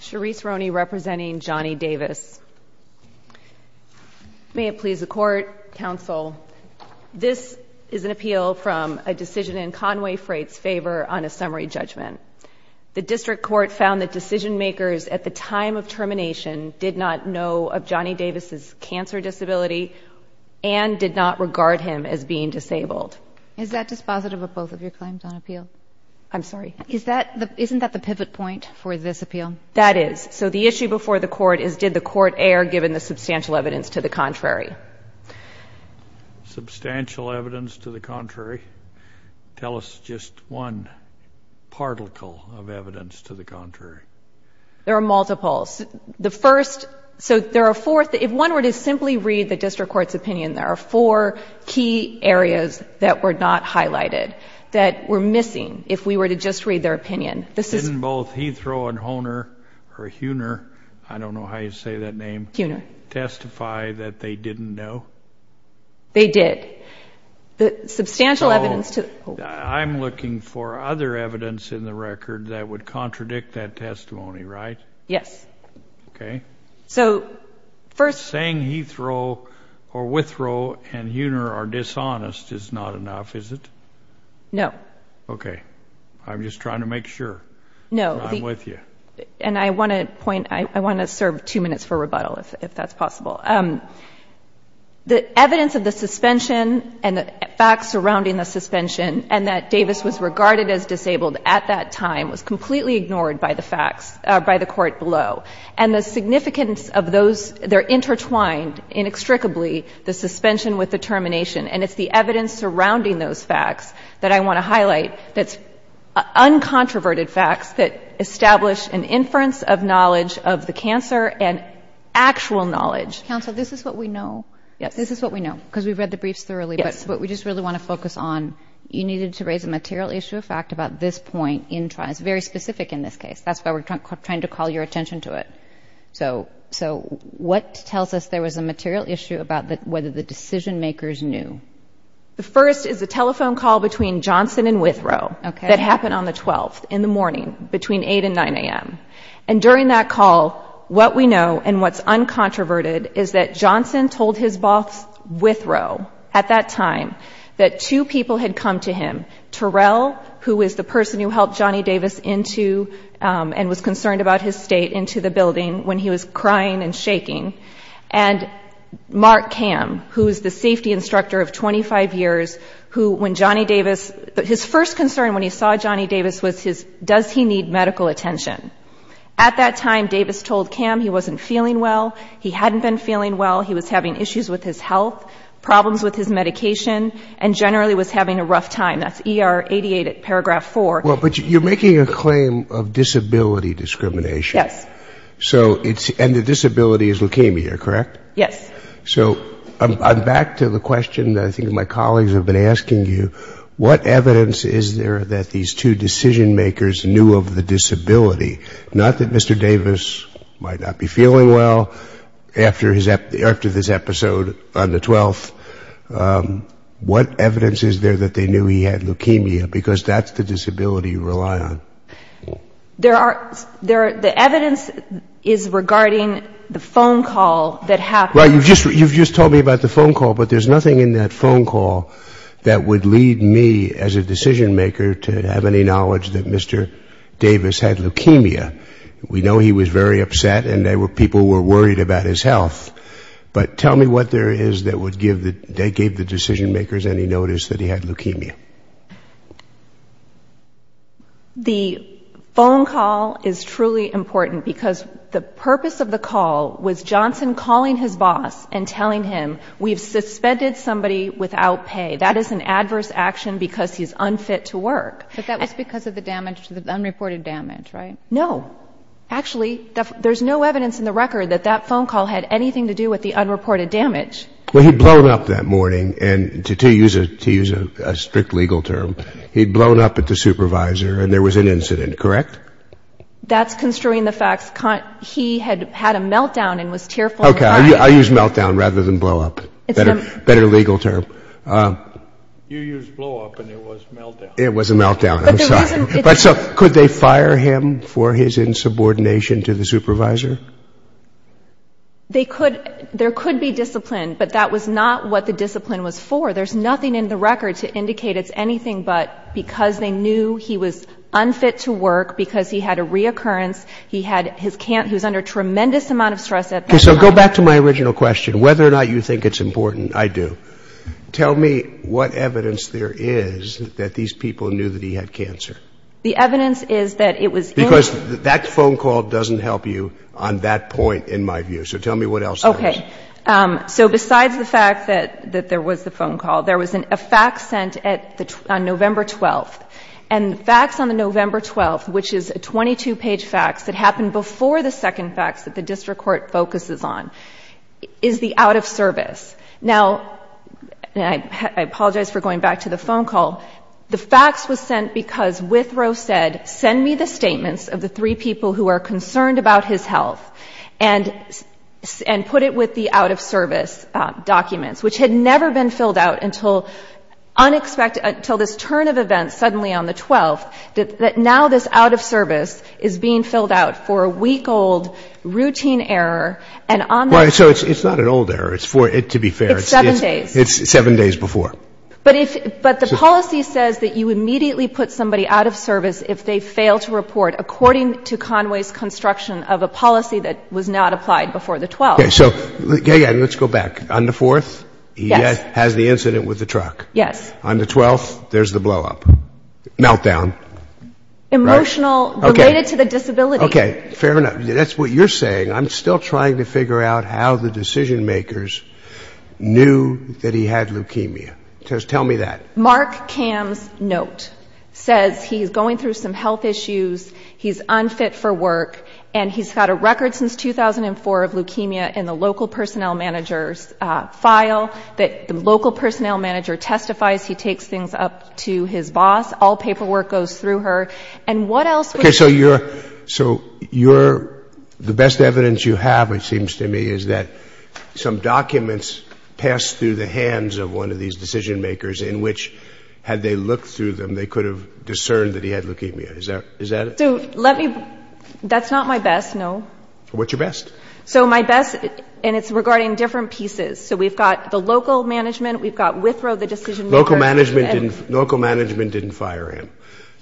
Sharice Roney representing Johnny Davis. May it please the Court, Counsel, this is an appeal from a decision in Con-Way Freight's favor on a summary judgment. The District Court found that decision makers at the time of termination did not know of Johnny Davis' cancer disability and did not regard him as being disabled. Is that dispositive of both of your claims on appeal? I'm sorry. Isn't that the pivot point for this appeal? That is. So the issue before the Court is did the Court err given the substantial evidence to the contrary? Substantial evidence to the contrary? Tell us just one particle of evidence to the contrary. There are multiples. The first, so there are four, if one were to simply read the District Court's opinion, there are four key areas that were not highlighted that were missing if we were to just read their opinion. Didn't both Heathrow and Hohner or Hewner, I don't know how you say that name, testify that they didn't know? They did. The substantial evidence to the contrary. So I'm looking for other evidence in the record that would contradict that testimony, right? Yes. Okay. So first. Saying Heathrow or Withrow and Hewner are dishonest is not enough, is it? No. Okay. I'm just trying to make sure that I'm with you. And I want to point, I want to serve two minutes for rebuttal if that's possible. The evidence of the suspension and the facts surrounding the suspension and that Davis was regarded as disabled at that time was completely ignored by the facts, by the Court below. And the significance of those, they're intertwined inextricably, the suspension with the termination. And it's the evidence surrounding those facts that I want to highlight that's uncontroverted facts that establish an inference of knowledge of the cancer and actual knowledge. Counsel, this is what we know. This is what we know because we've read the briefs thoroughly. But what we just really want to focus on, you needed to raise a material issue of fact about this point in time. It's very specific in this case. That's why we're trying to call your attention to it. So what tells us there was a material issue about whether the decision makers knew? The first is a telephone call between Johnson and Withrow that happened on the 12th in the morning between 8 and 9 a.m. And during that call, what we know and what's uncontroverted is that Johnson told his boss Withrow at that time that two people had come to him, Terrell, who is the person who helped Johnny Davis into and was concerned about his state into the building when he was crying and shaking, and Mark Cam, who is the safety instructor of 25 years, who when Johnny Davis, his first concern when he saw Johnny Davis was his, does he need medical attention? At that time, Davis told Cam he wasn't feeling well, he hadn't been feeling well, he was having issues with his health, problems with his medication, and generally was having a rough time. That's ER 88 at paragraph 4. Well, but you're making a claim of disability discrimination. Yes. So it's, and the disability is leukemia, correct? Yes. So I'm back to the question that I think my colleagues have been asking you. What evidence is there that these two decision makers knew of the disability? Not that Mr. Davis might not be feeling well after this episode on the 12th. What evidence is there that they knew he had leukemia? Because that's the disability you rely on. There are, the evidence is regarding the phone call that happened. Well, you've just told me about the phone call, but there's nothing in that phone call that would lead me as a decision maker to have any knowledge that Mr. Davis had leukemia. We know he was very upset and there were people who were worried about his health, but tell me what there is that would give the decision makers any notice that he had leukemia. The phone call is truly important because the purpose of the call was Johnson calling his boss and telling him we've suspended somebody without pay. That is an adverse action because he's unfit to work. But that was because of the damage, the unreported damage, right? No. Actually, there's no evidence in the record that that phone call had anything to do with the unreported damage. Well, he'd blown up that morning, and to use a strict legal term, he'd blown up at the supervisor and there was an incident, correct? That's construing the facts. He had had a meltdown and was tearful. Okay, I'll use meltdown rather than blow up, better legal term. You used blow up and it was meltdown. It was a meltdown, I'm sorry. But could they fire him for his insubordination to the supervisor? There could be discipline, but that was not what the discipline was for. There's nothing in the record to indicate it's anything but because they knew he was unfit to work, because he had a reoccurrence, he was under tremendous amount of stress at that time. Okay, so go back to my original question. Whether or not you think it's important, I do. Tell me what evidence there is that these people knew that he had cancer. The evidence is that it was in the record. Because that phone call doesn't help you on that point, in my view. So tell me what else there is. Okay. So besides the fact that there was the phone call, there was a fax sent on November 12th. And the fax on the November 12th, which is a 22-page fax that happened before the second fax that the district court focuses on, is the out-of-service. Now, I apologize for going back to the phone call. The fax was sent because Withrow said, send me the statements of the three people who are concerned about his health and put it with the out-of-service documents, which had never been filled out until this turn of events suddenly on the 12th, that now this out-of-service is being filled out for a week-old routine error. Right. So it's not an old error. To be fair. It's seven days. It's seven days before. But the policy says that you immediately put somebody out of service if they fail to report according to Conway's construction of a policy that was not applied before the 12th. Okay. So let's go back. On the 4th, he has the incident with the truck. Yes. On the 12th, there's the blowup. Meltdown. Emotional. Okay. Related to the disability. Okay. Fair enough. That's what you're saying. I'm still trying to figure out how the decision makers knew that he had leukemia. Tell me that. Mark Cam's note says he's going through some health issues, he's unfit for work, and he's got a record since 2004 of leukemia in the local personnel manager's file, that the local personnel manager testifies. He takes things up to his boss. All paperwork goes through her. Okay. So the best evidence you have, it seems to me, is that some documents passed through the hands of one of these decision makers in which had they looked through them, they could have discerned that he had leukemia. Is that it? That's not my best, no. What's your best? So my best, and it's regarding different pieces. So we've got the local management, we've got Withrow, the decision maker. Local management didn't fire him.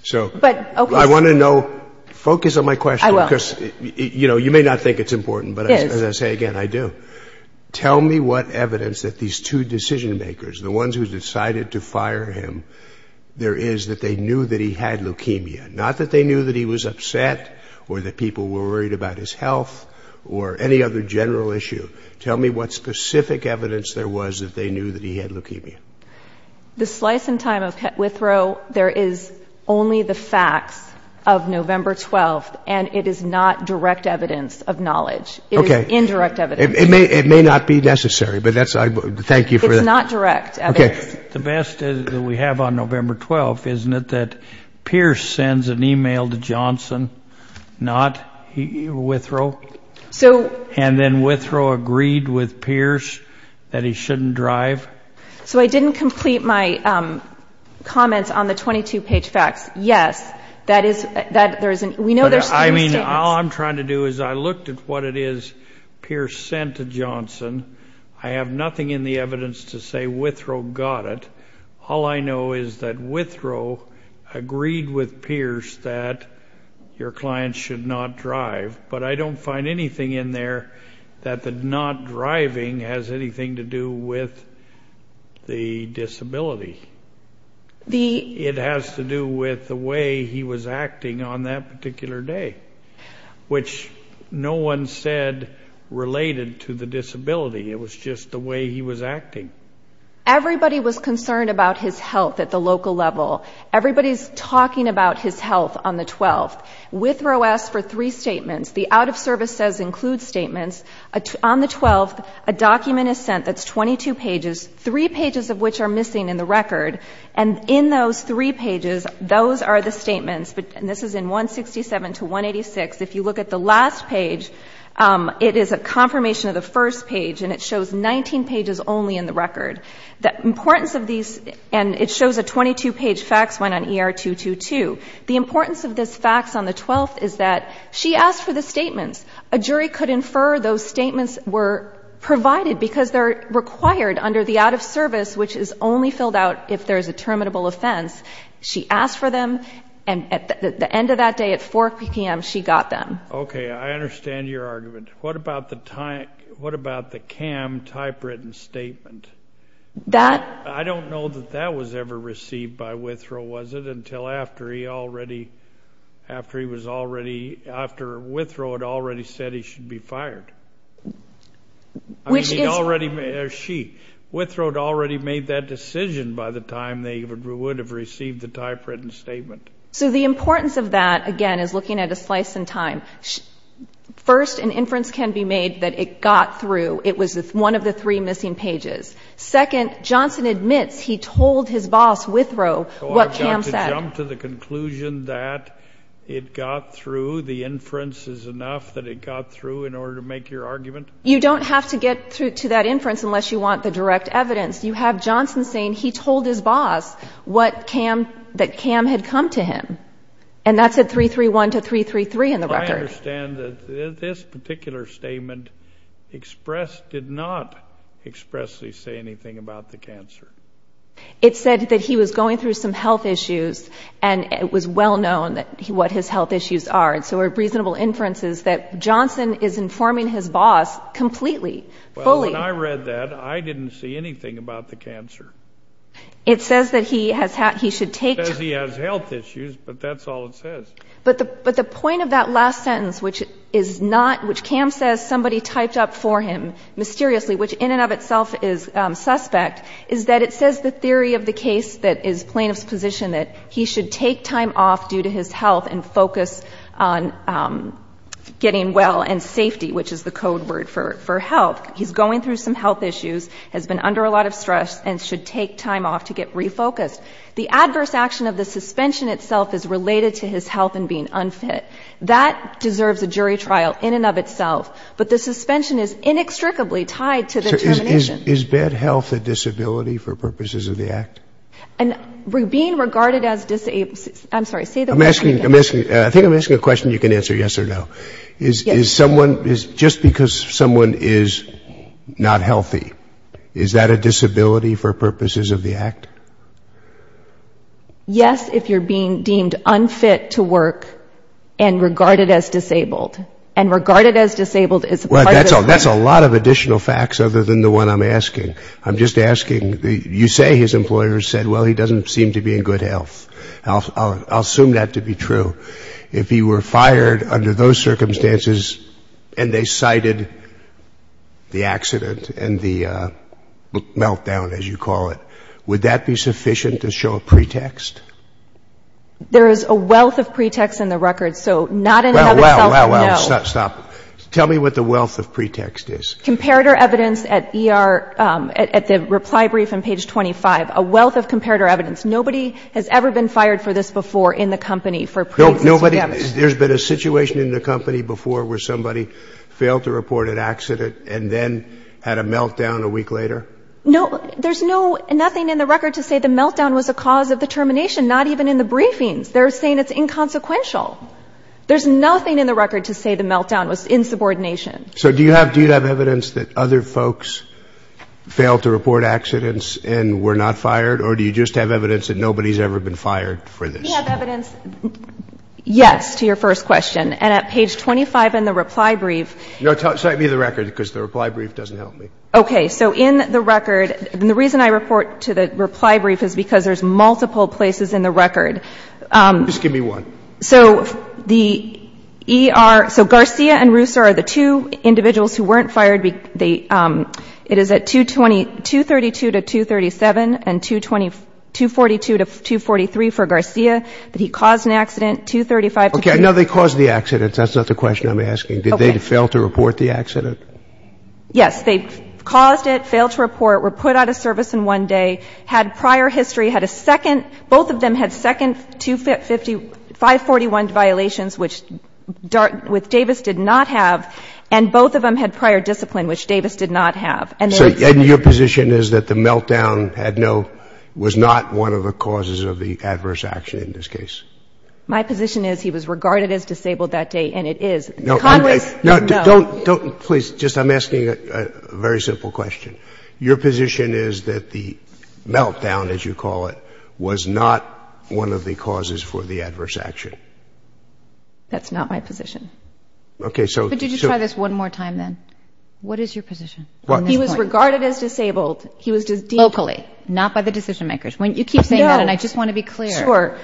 So I want to know, focus on my question. I will. Because, you know, you may not think it's important, but as I say again, I do. Tell me what evidence that these two decision makers, the ones who decided to fire him, there is that they knew that he had leukemia. Not that they knew that he was upset or that people were worried about his health or any other general issue. Tell me what specific evidence there was that they knew that he had leukemia. The slice in time of Withrow, there is only the facts of November 12th, and it is not direct evidence of knowledge. Okay. It is indirect evidence. It may not be necessary, but thank you for that. It's not direct evidence. Okay. The best that we have on November 12th, isn't it, that Pierce sends an e-mail to Johnson, not Withrow? And then Withrow agreed with Pierce that he shouldn't drive? So I didn't complete my comments on the 22-page facts. Yes, we know there's three statements. I mean, all I'm trying to do is I looked at what it is Pierce sent to Johnson. I have nothing in the evidence to say Withrow got it. All I know is that Withrow agreed with Pierce that your client should not drive. But I don't find anything in there that the not driving has anything to do with the disability. It has to do with the way he was acting on that particular day, which no one said related to the disability. It was just the way he was acting. Everybody was concerned about his health at the local level. Everybody's talking about his health on the 12th. Withrow asks for three statements. The out-of-service says include statements. On the 12th, a document is sent that's 22 pages, three pages of which are missing in the record. And in those three pages, those are the statements, and this is in 167 to 186. If you look at the last page, it is a confirmation of the first page, and it shows 19 pages only in the record. The importance of these, and it shows a 22-page facts one on ER-222. The importance of this facts on the 12th is that she asked for the statements. A jury could infer those statements were provided because they're required under the out-of-service, which is only filled out if there's a terminable offense. She asked for them, and at the end of that day at 4 p.m., she got them. Okay. I understand your argument. What about the CAM typewritten statement? That? I don't know that that was ever received by Withrow, was it, until after he already, after he was already, after Withrow had already said he should be fired. Which is? I mean, he already, or she. Withrow had already made that decision by the time they would have received the typewritten statement. So the importance of that, again, is looking at a slice in time. First, an inference can be made that it got through, it was one of the three missing pages. Second, Johnson admits he told his boss, Withrow, what CAM said. So I've got to jump to the conclusion that it got through, the inference is enough that it got through in order to make your argument? You don't have to get to that inference unless you want the direct evidence. You have Johnson saying he told his boss what CAM, that CAM had come to him. And that's at 331 to 333 in the record. I understand that this particular statement expressed, did not expressly say anything about the cancer. It said that he was going through some health issues, and it was well known what his health issues are. And so a reasonable inference is that Johnson is informing his boss completely, fully. Well, when I read that, I didn't see anything about the cancer. It says that he has, he should take. It says he has health issues, but that's all it says. But the point of that last sentence, which is not, which CAM says somebody typed up for him mysteriously, which in and of itself is suspect, is that it says the theory of the case that is plaintiff's position, that he should take time off due to his health and focus on getting well and safety, which is the code word for health. He's going through some health issues, has been under a lot of stress, and should take time off to get refocused. The adverse action of the suspension itself is related to his health and being unfit. That deserves a jury trial in and of itself, but the suspension is inextricably tied to the termination. Is bad health a disability for purposes of the act? And being regarded as disabled, I'm sorry, say the word again. I'm asking, I think I'm asking a question you can answer yes or no. Is someone, just because someone is not healthy, is that a disability for purposes of the act? Yes, if you're being deemed unfit to work and regarded as disabled. And regarded as disabled is part of the claim. Well, that's a lot of additional facts other than the one I'm asking. I'm just asking, you say his employer said, well, he doesn't seem to be in good health. I'll assume that to be true. If he were fired under those circumstances and they cited the accident and the meltdown, as you call it, would that be sufficient to show a pretext? There is a wealth of pretext in the record, so not in and of itself, no. Well, well, well, well, stop. Tell me what the wealth of pretext is. Comparator evidence at ER, at the reply brief on page 25, a wealth of comparator evidence. Nobody has ever been fired for this before in the company. There's been a situation in the company before where somebody failed to report an accident and then had a meltdown a week later? No, there's nothing in the record to say the meltdown was a cause of the termination, not even in the briefings. They're saying it's inconsequential. There's nothing in the record to say the meltdown was insubordination. So do you have evidence that other folks failed to report accidents and were not fired, or do you just have evidence that nobody's ever been fired for this? We have evidence, yes, to your first question. And at page 25 in the reply brief. No, cite me the record, because the reply brief doesn't help me. Okay. So in the record, and the reason I report to the reply brief is because there's multiple places in the record. Just give me one. So the E.R. So Garcia and Russo are the two individuals who weren't fired. It is at 232 to 237 and 242 to 243 for Garcia that he caused an accident, 235. Okay. No, they caused the accident. That's not the question I'm asking. Did they fail to report the accident? Yes. They caused it, failed to report, were put out of service in one day, had prior history, had a second. Both of them had second 541 violations, which Davis did not have, and both of them had prior discipline, which Davis did not have. So your position is that the meltdown was not one of the causes of the adverse action in this case? My position is he was regarded as disabled that day, and it is. Congress, no. No, don't. Please, just I'm asking a very simple question. Your position is that the meltdown, as you call it, was not one of the causes for the adverse action? That's not my position. Okay, so. Could you just try this one more time then? What is your position? He was regarded as disabled. Locally, not by the decision makers. You keep saying that, and I just want to be clear. Sure.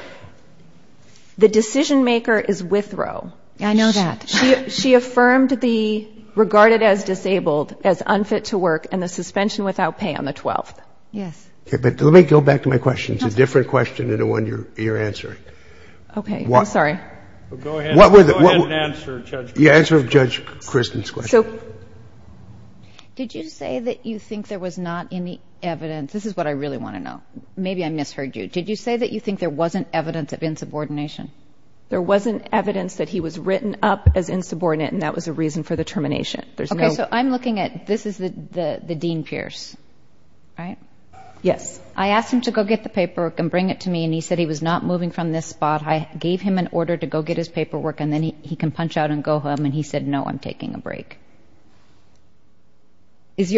The decision maker is Withrow. I know that. She affirmed the regarded as disabled as unfit to work and the suspension without pay on the 12th. Yes. Okay, but let me go back to my question. It's a different question than the one you're answering. Okay. I'm sorry. Go ahead and answer, Judge. The answer to Judge Kristen's question. So did you say that you think there was not any evidence? This is what I really want to know. Maybe I misheard you. Did you say that you think there wasn't evidence of insubordination? There wasn't evidence that he was written up as insubordinate, and that was a reason for the termination. Okay, so I'm looking at this is the Dean Pierce, right? Yes. I asked him to go get the paperwork and bring it to me, and he said he was not moving from this spot. I gave him an order to go get his paperwork, and then he can punch out and go home, and he said, no, I'm taking a break. Is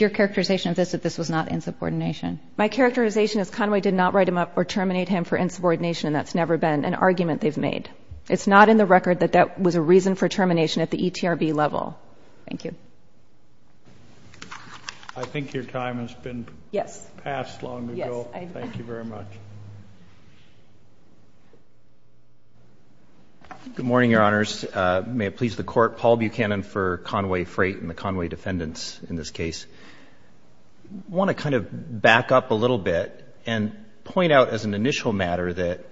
your characterization of this that this was not insubordination? My characterization is Conway did not write him up or terminate him for insubordination, and that's never been an argument they've made. It's not in the record that that was a reason for termination at the ETRB level. Thank you. I think your time has been passed long ago. Thank you very much. Good morning, Your Honors. May it please the Court, Paul Buchanan for Conway Freight and the Conway defendants in this case. I want to kind of back up a little bit and point out as an initial matter that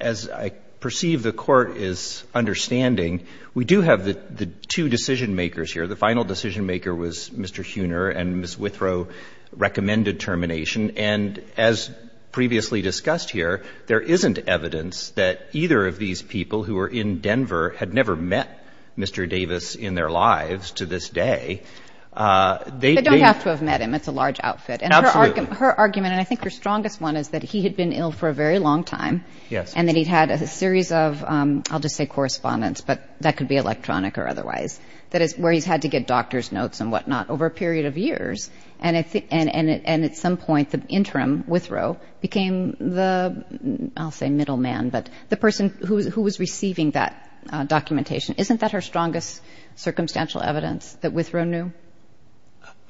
as I perceive the Court is understanding, we do have the two decision-makers here. The final decision-maker was Mr. Huener and Ms. Withrow recommended termination. And as previously discussed here, there isn't evidence that either of these people who were in Denver had never met Mr. Davis in their lives to this day. They don't have to have met him. It's a large outfit. Absolutely. And her argument, and I think her strongest one, is that he had been ill for a very long time. Yes. And that he'd had a series of, I'll just say correspondence, but that could be electronic or otherwise, where he's had to get doctor's notes and whatnot over a period of years. And at some point, the interim Withrow became the, I'll say middle man, but the person who was receiving that documentation. Isn't that her strongest circumstantial evidence that Withrow knew?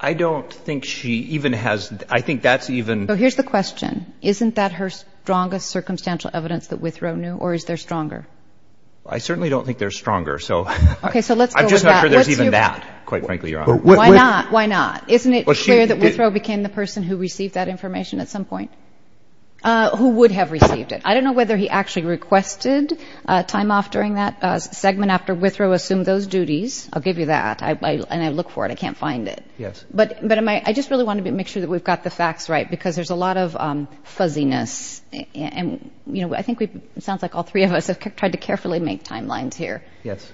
I don't think she even has. I think that's even. So here's the question. Isn't that her strongest circumstantial evidence that Withrow knew, or is there stronger? I certainly don't think there's stronger, so. Okay, so let's go with that. I'm just not sure there's even that, quite frankly, Your Honor. Why not? Why not? Isn't it clear that Withrow became the person who received that information at some point? Who would have received it? I don't know whether he actually requested time off during that segment after Withrow assumed those duties. I'll give you that. And I look for it. I can't find it. Yes. But I just really want to make sure that we've got the facts right because there's a lot of fuzziness. And, you know, I think it sounds like all three of us have tried to carefully make timelines here. Yes.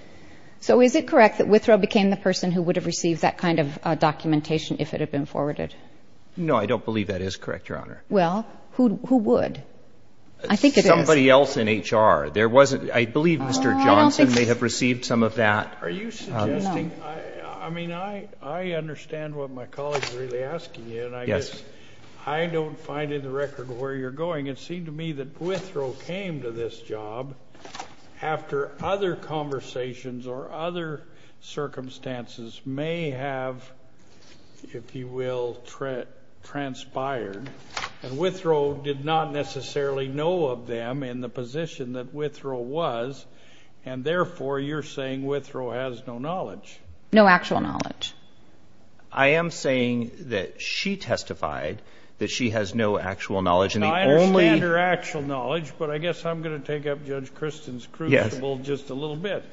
So is it correct that Withrow became the person who would have received that kind of documentation if it had been forwarded? No, I don't believe that is correct, Your Honor. Well, who would? I think it is. Somebody else in HR. There wasn't. I believe Mr. Johnson may have received some of that. Are you suggesting? No. I mean, I understand what my colleague is really asking you. Yes. And I guess I don't find in the record where you're going. It seemed to me that Withrow came to this job after other conversations or other circumstances may have, if you will, transpired. And Withrow did not necessarily know of them in the position that Withrow was. And, therefore, you're saying Withrow has no knowledge. No actual knowledge. I am saying that she testified that she has no actual knowledge. I understand her actual knowledge, but I guess I'm going to take up Judge Kristen's crucible just a little bit.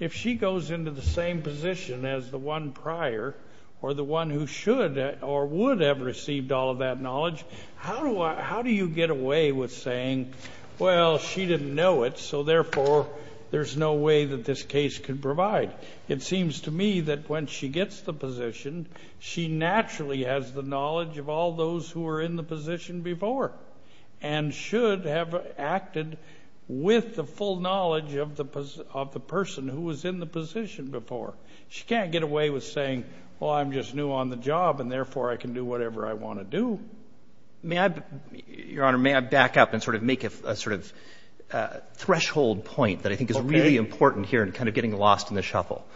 If she goes into the same position as the one prior or the one who should or would have received all of that knowledge, how do you get away with saying, well, she didn't know it, so, therefore, there's no way that this case could provide? It seems to me that when she gets the position, she naturally has the knowledge of all those who were in the position before and should have acted with the full knowledge of the person who was in the position before. She can't get away with saying, well, I'm just new on the job, and, therefore, I can do whatever I want to do. May I, Your Honor, may I back up and sort of make a sort of threshold point that I think is really important here and kind of getting lost in the shuffle?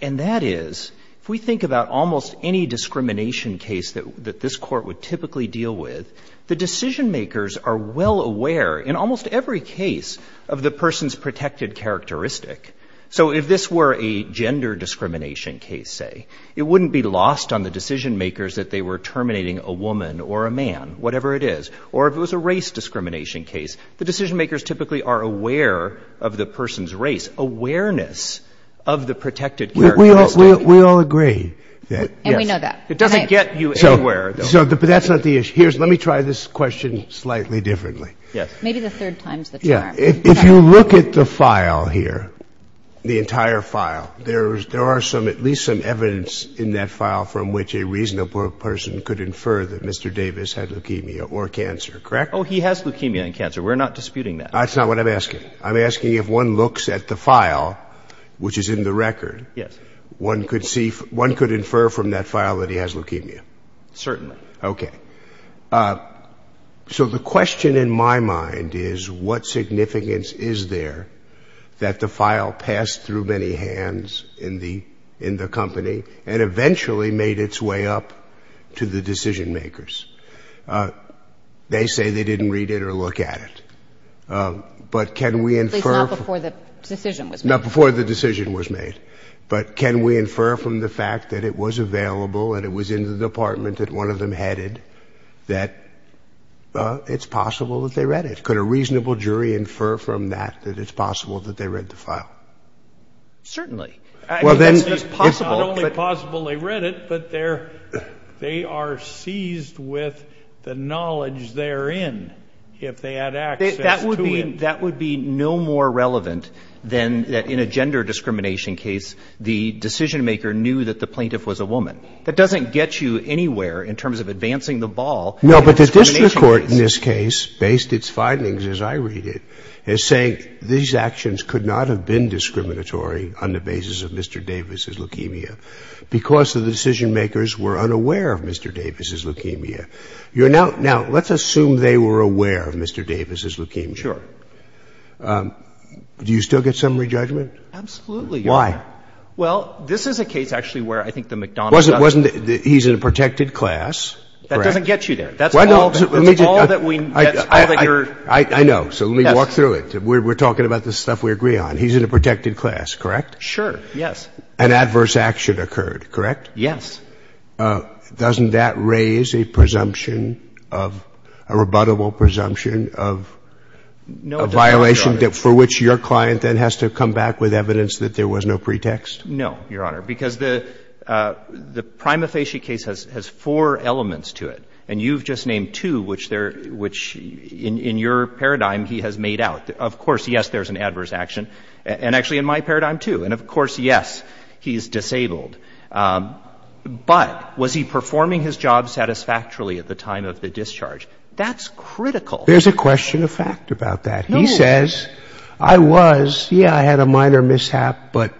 And that is if we think about almost any discrimination case that this court would typically deal with, the decision-makers are well aware in almost every case of the person's protected characteristic. So if this were a gender discrimination case, say, it wouldn't be lost on the decision-makers that they were terminating a woman or a man, whatever it is. Or if it was a race discrimination case, the decision-makers typically are aware of the person's race, of the protected characteristic. We all agree. And we know that. It doesn't get you anywhere. But that's not the issue. Let me try this question slightly differently. Maybe the third time's the charm. If you look at the file here, the entire file, there are at least some evidence in that file from which a reasonable person could infer that Mr. Davis had leukemia or cancer, correct? Oh, he has leukemia and cancer. We're not disputing that. That's not what I'm asking. I'm asking if one looks at the file, which is in the record, one could infer from that file that he has leukemia. Certainly. Okay. So the question in my mind is, what significance is there that the file passed through many hands in the company and eventually made its way up to the decision-makers? They say they didn't read it or look at it. But can we infer — At least not before the decision was made. Not before the decision was made. But can we infer from the fact that it was available and it was in the department that one of them headed that it's possible that they read it? Could a reasonable jury infer from that that it's possible that they read the file? Certainly. I mean, that's possible. It's not only possible they read it, but they are seized with the knowledge therein if they had access to it. That would be no more relevant than in a gender discrimination case, the decision-maker knew that the plaintiff was a woman. That doesn't get you anywhere in terms of advancing the ball. No, but the district court in this case, based its findings as I read it, is saying these actions could not have been discriminatory on the basis of Mr. Davis' leukemia because the decision-makers were unaware of Mr. Davis' leukemia. Now, let's assume they were aware of Mr. Davis' leukemia. Sure. Do you still get summary judgment? Absolutely. Why? Well, this is a case actually where I think the McDonald's — He's in a protected class. That doesn't get you there. That's all that we — I know. So let me walk through it. We're talking about the stuff we agree on. He's in a protected class, correct? Sure. Yes. An adverse action occurred, correct? Yes. Doesn't that raise a presumption of — a rebuttable presumption of — No, it doesn't, Your Honor. — a violation for which your client then has to come back with evidence that there was no pretext? No, Your Honor, because the prima facie case has four elements to it. And you've just named two, which in your paradigm he has made out. Of course, yes, there's an adverse action. And actually in my paradigm, too. And of course, yes, he's disabled. But was he performing his job satisfactorily at the time of the discharge? That's critical. There's a question of fact about that. No. He says, I was, yeah, I had a minor mishap, but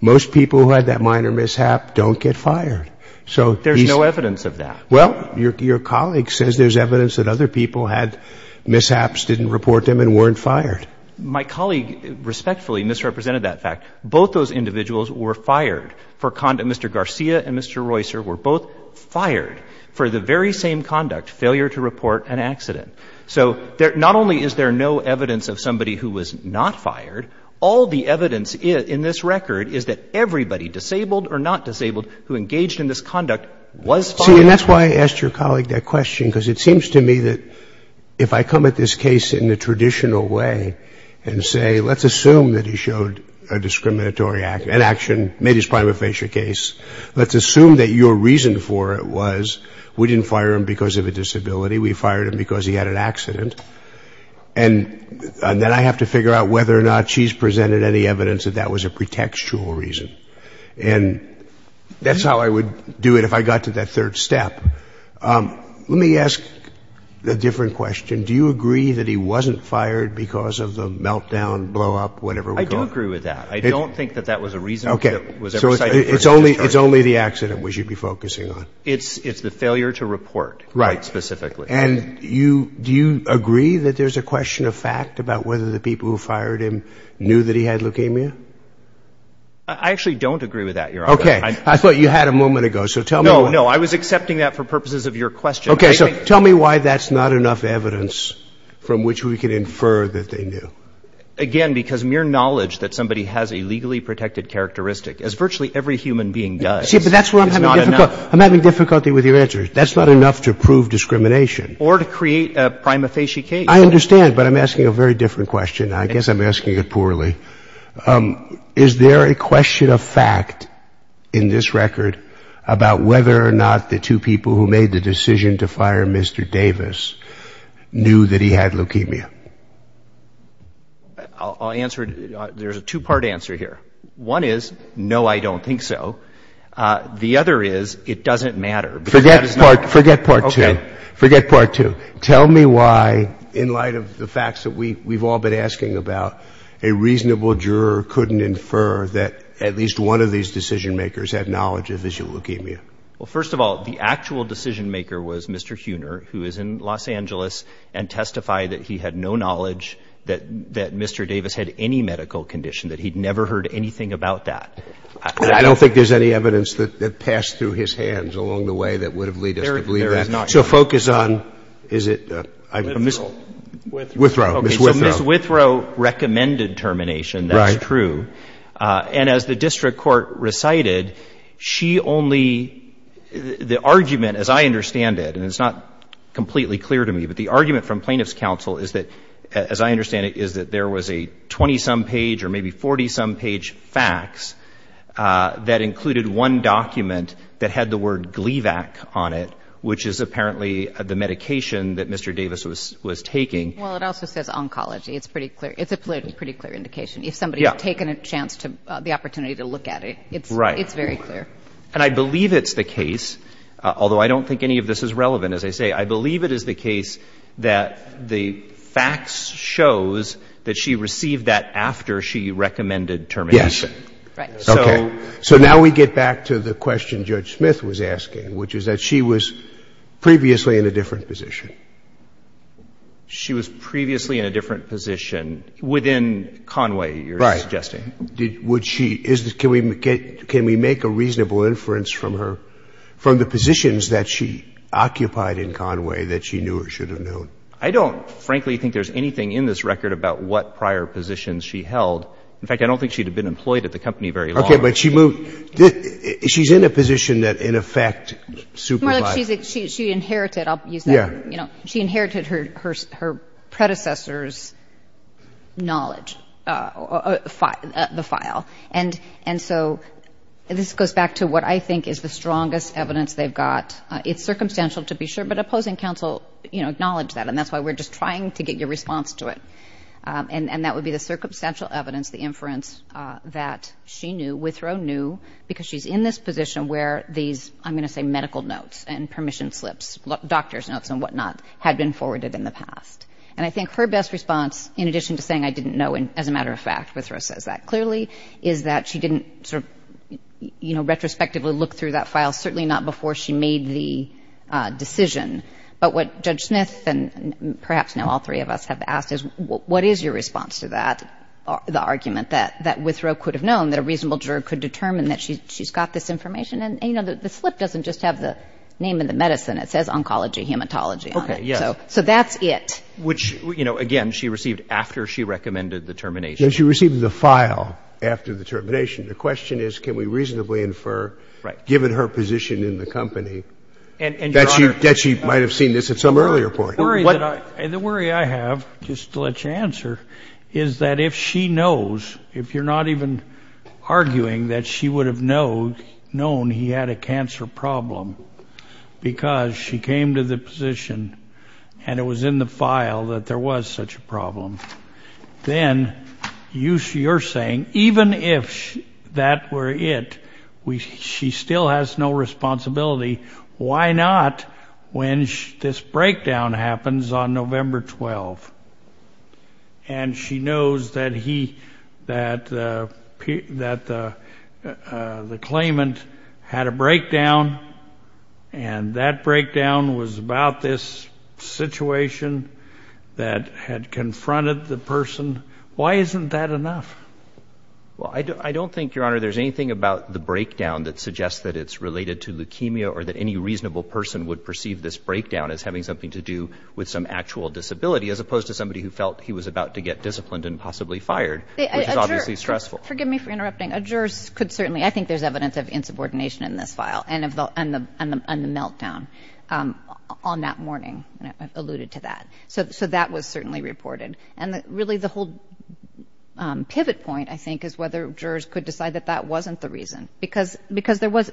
most people who had that minor mishap don't get fired. So he's — There's no evidence of that. Well, your colleague says there's evidence that other people had mishaps, didn't report them, and weren't fired. My colleague respectfully misrepresented that fact. Both those individuals were fired for — Mr. Garcia and Mr. Roycer were both fired for the very same conduct, failure to report an accident. So not only is there no evidence of somebody who was not fired, all the evidence in this record is that everybody disabled or not disabled who engaged in this conduct was fired. See, and that's why I asked your colleague that question, because it seems to me that if I come at this case in the traditional way and say, let's assume that he showed a discriminatory — an action, made his prima facie case. Let's assume that your reason for it was we didn't fire him because of a disability. We fired him because he had an accident. And then I have to figure out whether or not she's presented any evidence that that was a pretextual reason. And that's how I would do it if I got to that third step. Let me ask a different question. Do you agree that he wasn't fired because of the meltdown, blowup, whatever we call it? I do agree with that. I don't think that that was a reason that was ever cited. So it's only the accident we should be focusing on. It's the failure to report quite specifically. Right. And do you agree that there's a question of fact about whether the people who fired him knew that he had leukemia? I actually don't agree with that, Your Honor. Okay. I thought you had a moment ago. So tell me — No, no. I was accepting that for purposes of your question. Okay. So tell me why that's not enough evidence from which we can infer that they knew. Again, because mere knowledge that somebody has a legally protected characteristic, as virtually every human being does — See, but that's where I'm having difficulty with your answer. That's not enough to prove discrimination. Or to create a prima facie case. I understand. But I'm asking a very different question. I guess I'm asking it poorly. Is there a question of fact in this record about whether or not the two people who made the decision to fire Mr. Davis knew that he had leukemia? I'll answer — there's a two-part answer here. One is, no, I don't think so. The other is, it doesn't matter. Forget part two. Okay. Forget part two. Tell me why, in light of the facts that we've all been asking about, a reasonable juror couldn't infer that at least one of these decision-makers had knowledge of visual leukemia. Well, first of all, the actual decision-maker was Mr. Huener, who is in Los Angeles, and testified that he had no knowledge that Mr. Davis had any medical condition, that he'd never heard anything about that. I don't think there's any evidence that passed through his hands along the way that would have led us to believe that. There is not. What's your focus on? Is it — Withrow. Withrow. Ms. Withrow. Okay. So Ms. Withrow recommended termination. That's true. Right. And as the district court recited, she only — the argument, as I understand it, and it's not completely clear to me, but the argument from plaintiff's counsel is that, as I understand it, is that there was a 20-some page or maybe 40-some page fax that included one document that had the word Gleevec on it, which is apparently the medication that Mr. Davis was taking. Well, it also says oncology. It's pretty clear. It's a pretty clear indication. Yeah. If somebody had taken a chance to — the opportunity to look at it. Right. It's very clear. And I believe it's the case, although I don't think any of this is relevant, as I say, I believe it is the case that the fax shows that she received that after she recommended termination. Yes. Right. Okay. So now we get back to the question Judge Smith was asking, which is that she was previously in a different position. She was previously in a different position within Conway, you're suggesting. Right. Can we make a reasonable inference from her — from the positions that she occupied in Conway that she knew or should have known? I don't, frankly, think there's anything in this record about what prior positions she held. In fact, I don't think she'd have been employed at the company very long. Okay. But she moved — she's in a position that, in effect, supervised — She inherited her predecessor's knowledge — the file. And so this goes back to what I think is the strongest evidence they've got. It's circumstantial, to be sure, but opposing counsel acknowledged that, and that's why we're just trying to get your response to it. And that would be the circumstantial evidence, the inference that she knew, Withrow knew, because she's in this position where these, I'm going to say, medical notes and permission slips, doctor's notes and whatnot, had been forwarded in the past. And I think her best response, in addition to saying, I didn't know, and as a matter of fact, Withrow says that clearly, is that she didn't sort of, you know, retrospectively look through that file, certainly not before she made the decision. But what Judge Smith and perhaps now all three of us have asked is, what is your response to that, the argument that Withrow could have known, that a reasonable juror could determine that she's got this information? And, you know, the slip doesn't just have the name of the medicine. It says oncology, hematology on it. So that's it. Which, you know, again, she received after she recommended the termination. She received the file after the termination. The question is, can we reasonably infer, given her position in the company, that she might have seen this at some earlier point? The worry I have, just to let you answer, is that if she knows, if you're not even arguing that she would have known he had a cancer problem, because she came to the position and it was in the file that there was such a problem, then you're saying, even if that were it, she still has no responsibility. Why not when this breakdown happens on November 12th, and she knows that the claimant had a breakdown, and that breakdown was about this situation that had confronted the person. Why isn't that enough? Senator, there's anything about the breakdown that suggests that it's related to leukemia or that any reasonable person would perceive this breakdown as having something to do with some actual disability, as opposed to somebody who felt he was about to get disciplined and possibly fired, which is obviously stressful. Forgive me for interrupting. A juror could certainly, I think there's evidence of insubordination in this file, and the meltdown on that morning alluded to that. So that was certainly reported. And really the whole pivot point, I think, is whether jurors could decide that that wasn't the reason, because there was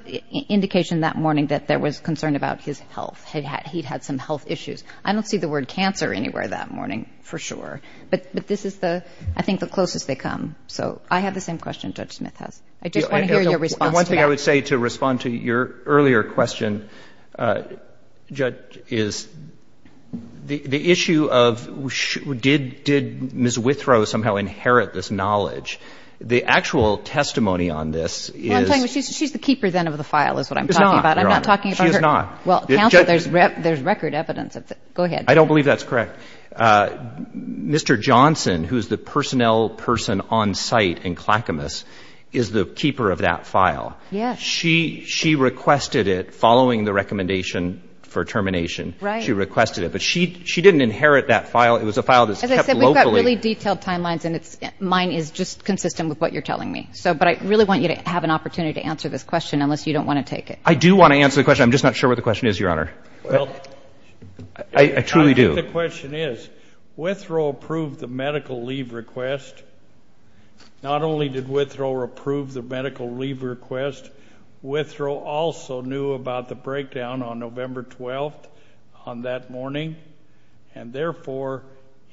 indication that morning that there was concern about his health. He'd had some health issues. I don't see the word cancer anywhere that morning, for sure. But this is, I think, the closest they come. So I have the same question Judge Smith has. I just want to hear your response to that. I think I would say to respond to your earlier question, Judge, is the issue of did Ms. Withrow somehow inherit this knowledge? The actual testimony on this is. She's the keeper, then, of the file is what I'm talking about. She's not, Your Honor. I'm not talking about her. She is not. Well, counsel, there's record evidence. Go ahead. I don't believe that's correct. Mr. Johnson, who is the personnel person on site in Clackamas, is the keeper of that file. Yes. She requested it following the recommendation for termination. Right. She requested it. But she didn't inherit that file. It was a file that's kept locally. As I said, we've got really detailed timelines, and mine is just consistent with what you're telling me. But I really want you to have an opportunity to answer this question, unless you don't want to take it. I do want to answer the question. I'm just not sure what the question is, Your Honor. I truly do. I think the question is, Withrow approved the medical leave request. Not only did Withrow approve the medical leave request, Withrow also knew about the breakdown on November 12th on that morning, and, therefore,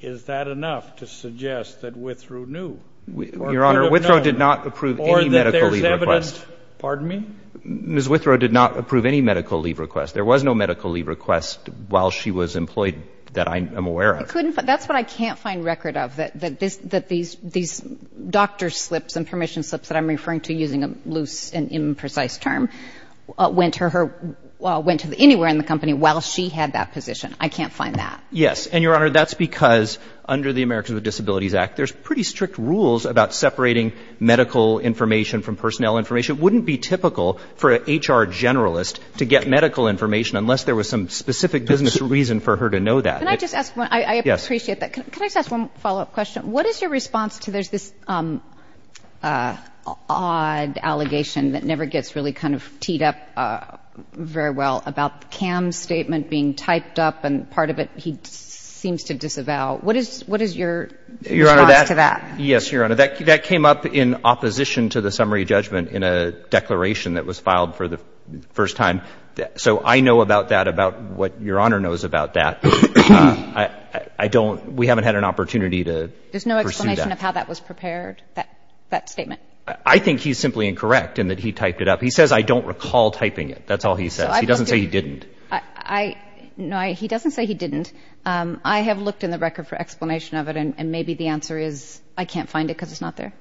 is that enough to suggest that Withrow knew? Your Honor, Withrow did not approve any medical leave request. Or that there's evidence. Pardon me? Ms. Withrow did not approve any medical leave request. There was no medical leave request while she was employed that I am aware of. That's what I can't find record of, that these doctor slips and permission slips that I'm referring to, using a loose and imprecise term, went to anywhere in the company while she had that position. I can't find that. Yes. And, Your Honor, that's because under the Americans with Disabilities Act, there's pretty strict rules about separating medical information from personnel information. And, therefore, I think that, given the circumstances in which it would be typical for an HR generalist to get medical information, unless there was some specific business reason for her to know that. Can I just ask one? I appreciate that. Can I just ask one follow-up question? What is your response to this odd allegation that never gets really kind of teed up very well about Cam's statement being typed up and part of it he seems to disavow? What is your response to that? Yes, Your Honor. That came up in opposition to the summary judgment in a declaration that was filed for the first time. So I know about that, about what Your Honor knows about that. I don't. We haven't had an opportunity to pursue that. There's no explanation of how that was prepared, that statement? I think he's simply incorrect in that he typed it up. He says, I don't recall typing it. That's all he says. He doesn't say he didn't. No, he doesn't say he didn't. I have looked in the record for explanation of it, and maybe the answer is I can't find it because it's not there.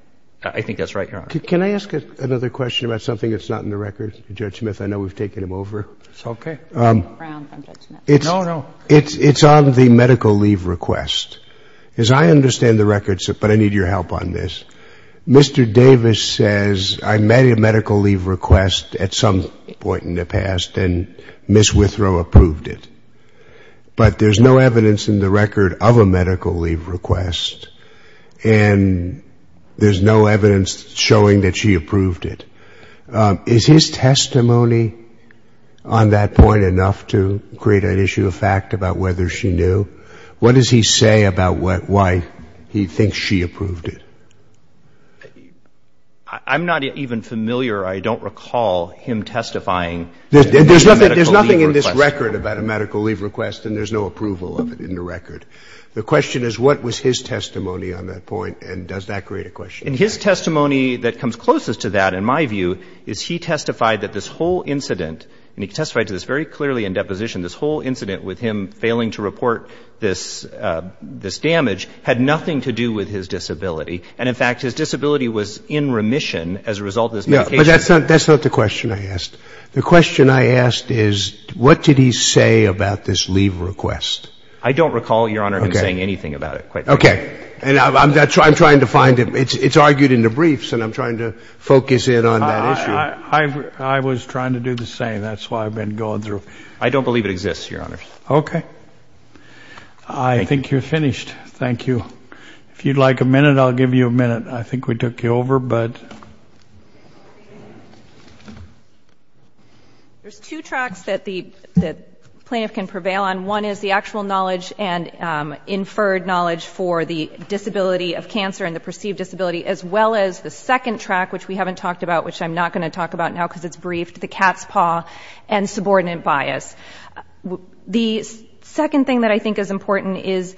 I think that's right, Your Honor. Can I ask another question about something that's not in the record, Judge Smith? I know we've taken him over. It's okay. No, no. It's on the medical leave request. As I understand the records, but I need your help on this, Mr. Davis says, I made a medical leave request at some point in the past, and Ms. Withrow approved it. But there's no evidence in the record of a medical leave request, and there's no evidence showing that she approved it. Is his testimony on that point enough to create an issue of fact about whether she knew? What does he say about why he thinks she approved it? I'm not even familiar. I don't recall him testifying. There's nothing in this record about a medical leave request, and there's no approval of it in the record. The question is, what was his testimony on that point, and does that create a question? And his testimony that comes closest to that, in my view, is he testified that this whole incident, and he testified to this very clearly in deposition, this whole incident with him failing to report this damage, had nothing to do with his disability. And, in fact, his disability was in remission as a result of this medication. But that's not the question I asked. The question I asked is, what did he say about this leave request? I don't recall, Your Honor, him saying anything about it. Okay. And I'm trying to find it. It's argued in the briefs, and I'm trying to focus in on that issue. I was trying to do the same. That's why I've been going through. I don't believe it exists, Your Honor. Okay. I think you're finished. Thank you. If you'd like a minute, I'll give you a minute. I think we took you over, but. There's two tracks that the plaintiff can prevail on. One is the actual knowledge and inferred knowledge for the disability of cancer and the perceived disability, as well as the second track, which we haven't talked about, which I'm not going to talk about now because it's brief, the cat's paw and subordinate bias. The second thing that I think is important is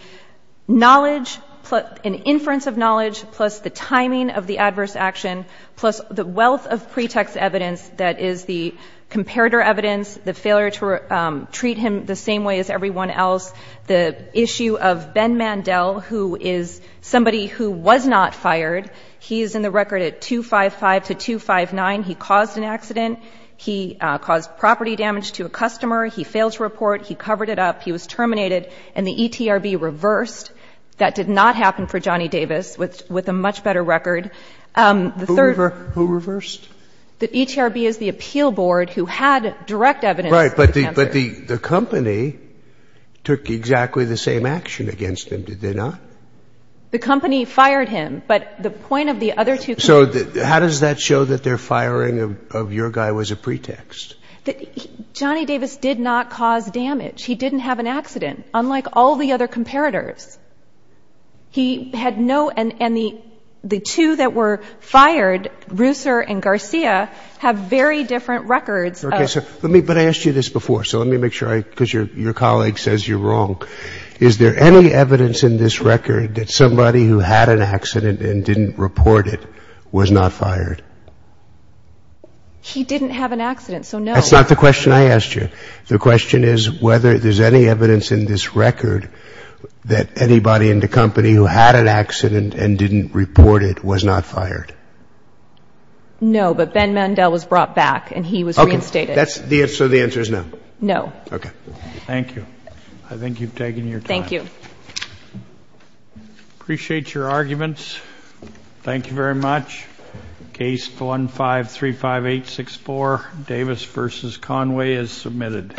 knowledge, an inference of knowledge, plus the timing of the adverse action, plus the wealth of pretext evidence that is the comparator evidence, the failure to treat him the same way as everyone else, the issue of Ben Mandel, who is somebody who was not fired. He is in the record at 255 to 259. He caused an accident. He caused property damage to a customer. He failed to report. He covered it up. He was terminated, and the ETRB reversed. That did not happen for Johnny Davis, with a much better record. Who reversed? The ETRB is the appeal board who had direct evidence. That's right, but the company took exactly the same action against him, did they not? The company fired him, but the point of the other two companies. So how does that show that their firing of your guy was a pretext? Johnny Davis did not cause damage. He didn't have an accident, unlike all the other comparators. He had no, and the two that were fired, Reusser and Garcia, have very different records. Okay, but I asked you this before, so let me make sure, because your colleague says you're wrong. Is there any evidence in this record that somebody who had an accident and didn't report it was not fired? He didn't have an accident, so no. That's not the question I asked you. The question is whether there's any evidence in this record that anybody in the company who had an accident and didn't report it was not fired. No, but Ben Mandel was brought back, and he was reinstated. Okay, so the answer is no? No. Okay. Thank you. I think you've taken your time. Thank you. Appreciate your arguments. Thank you very much. Case 15-35864, Davis v. Conway, is submitted.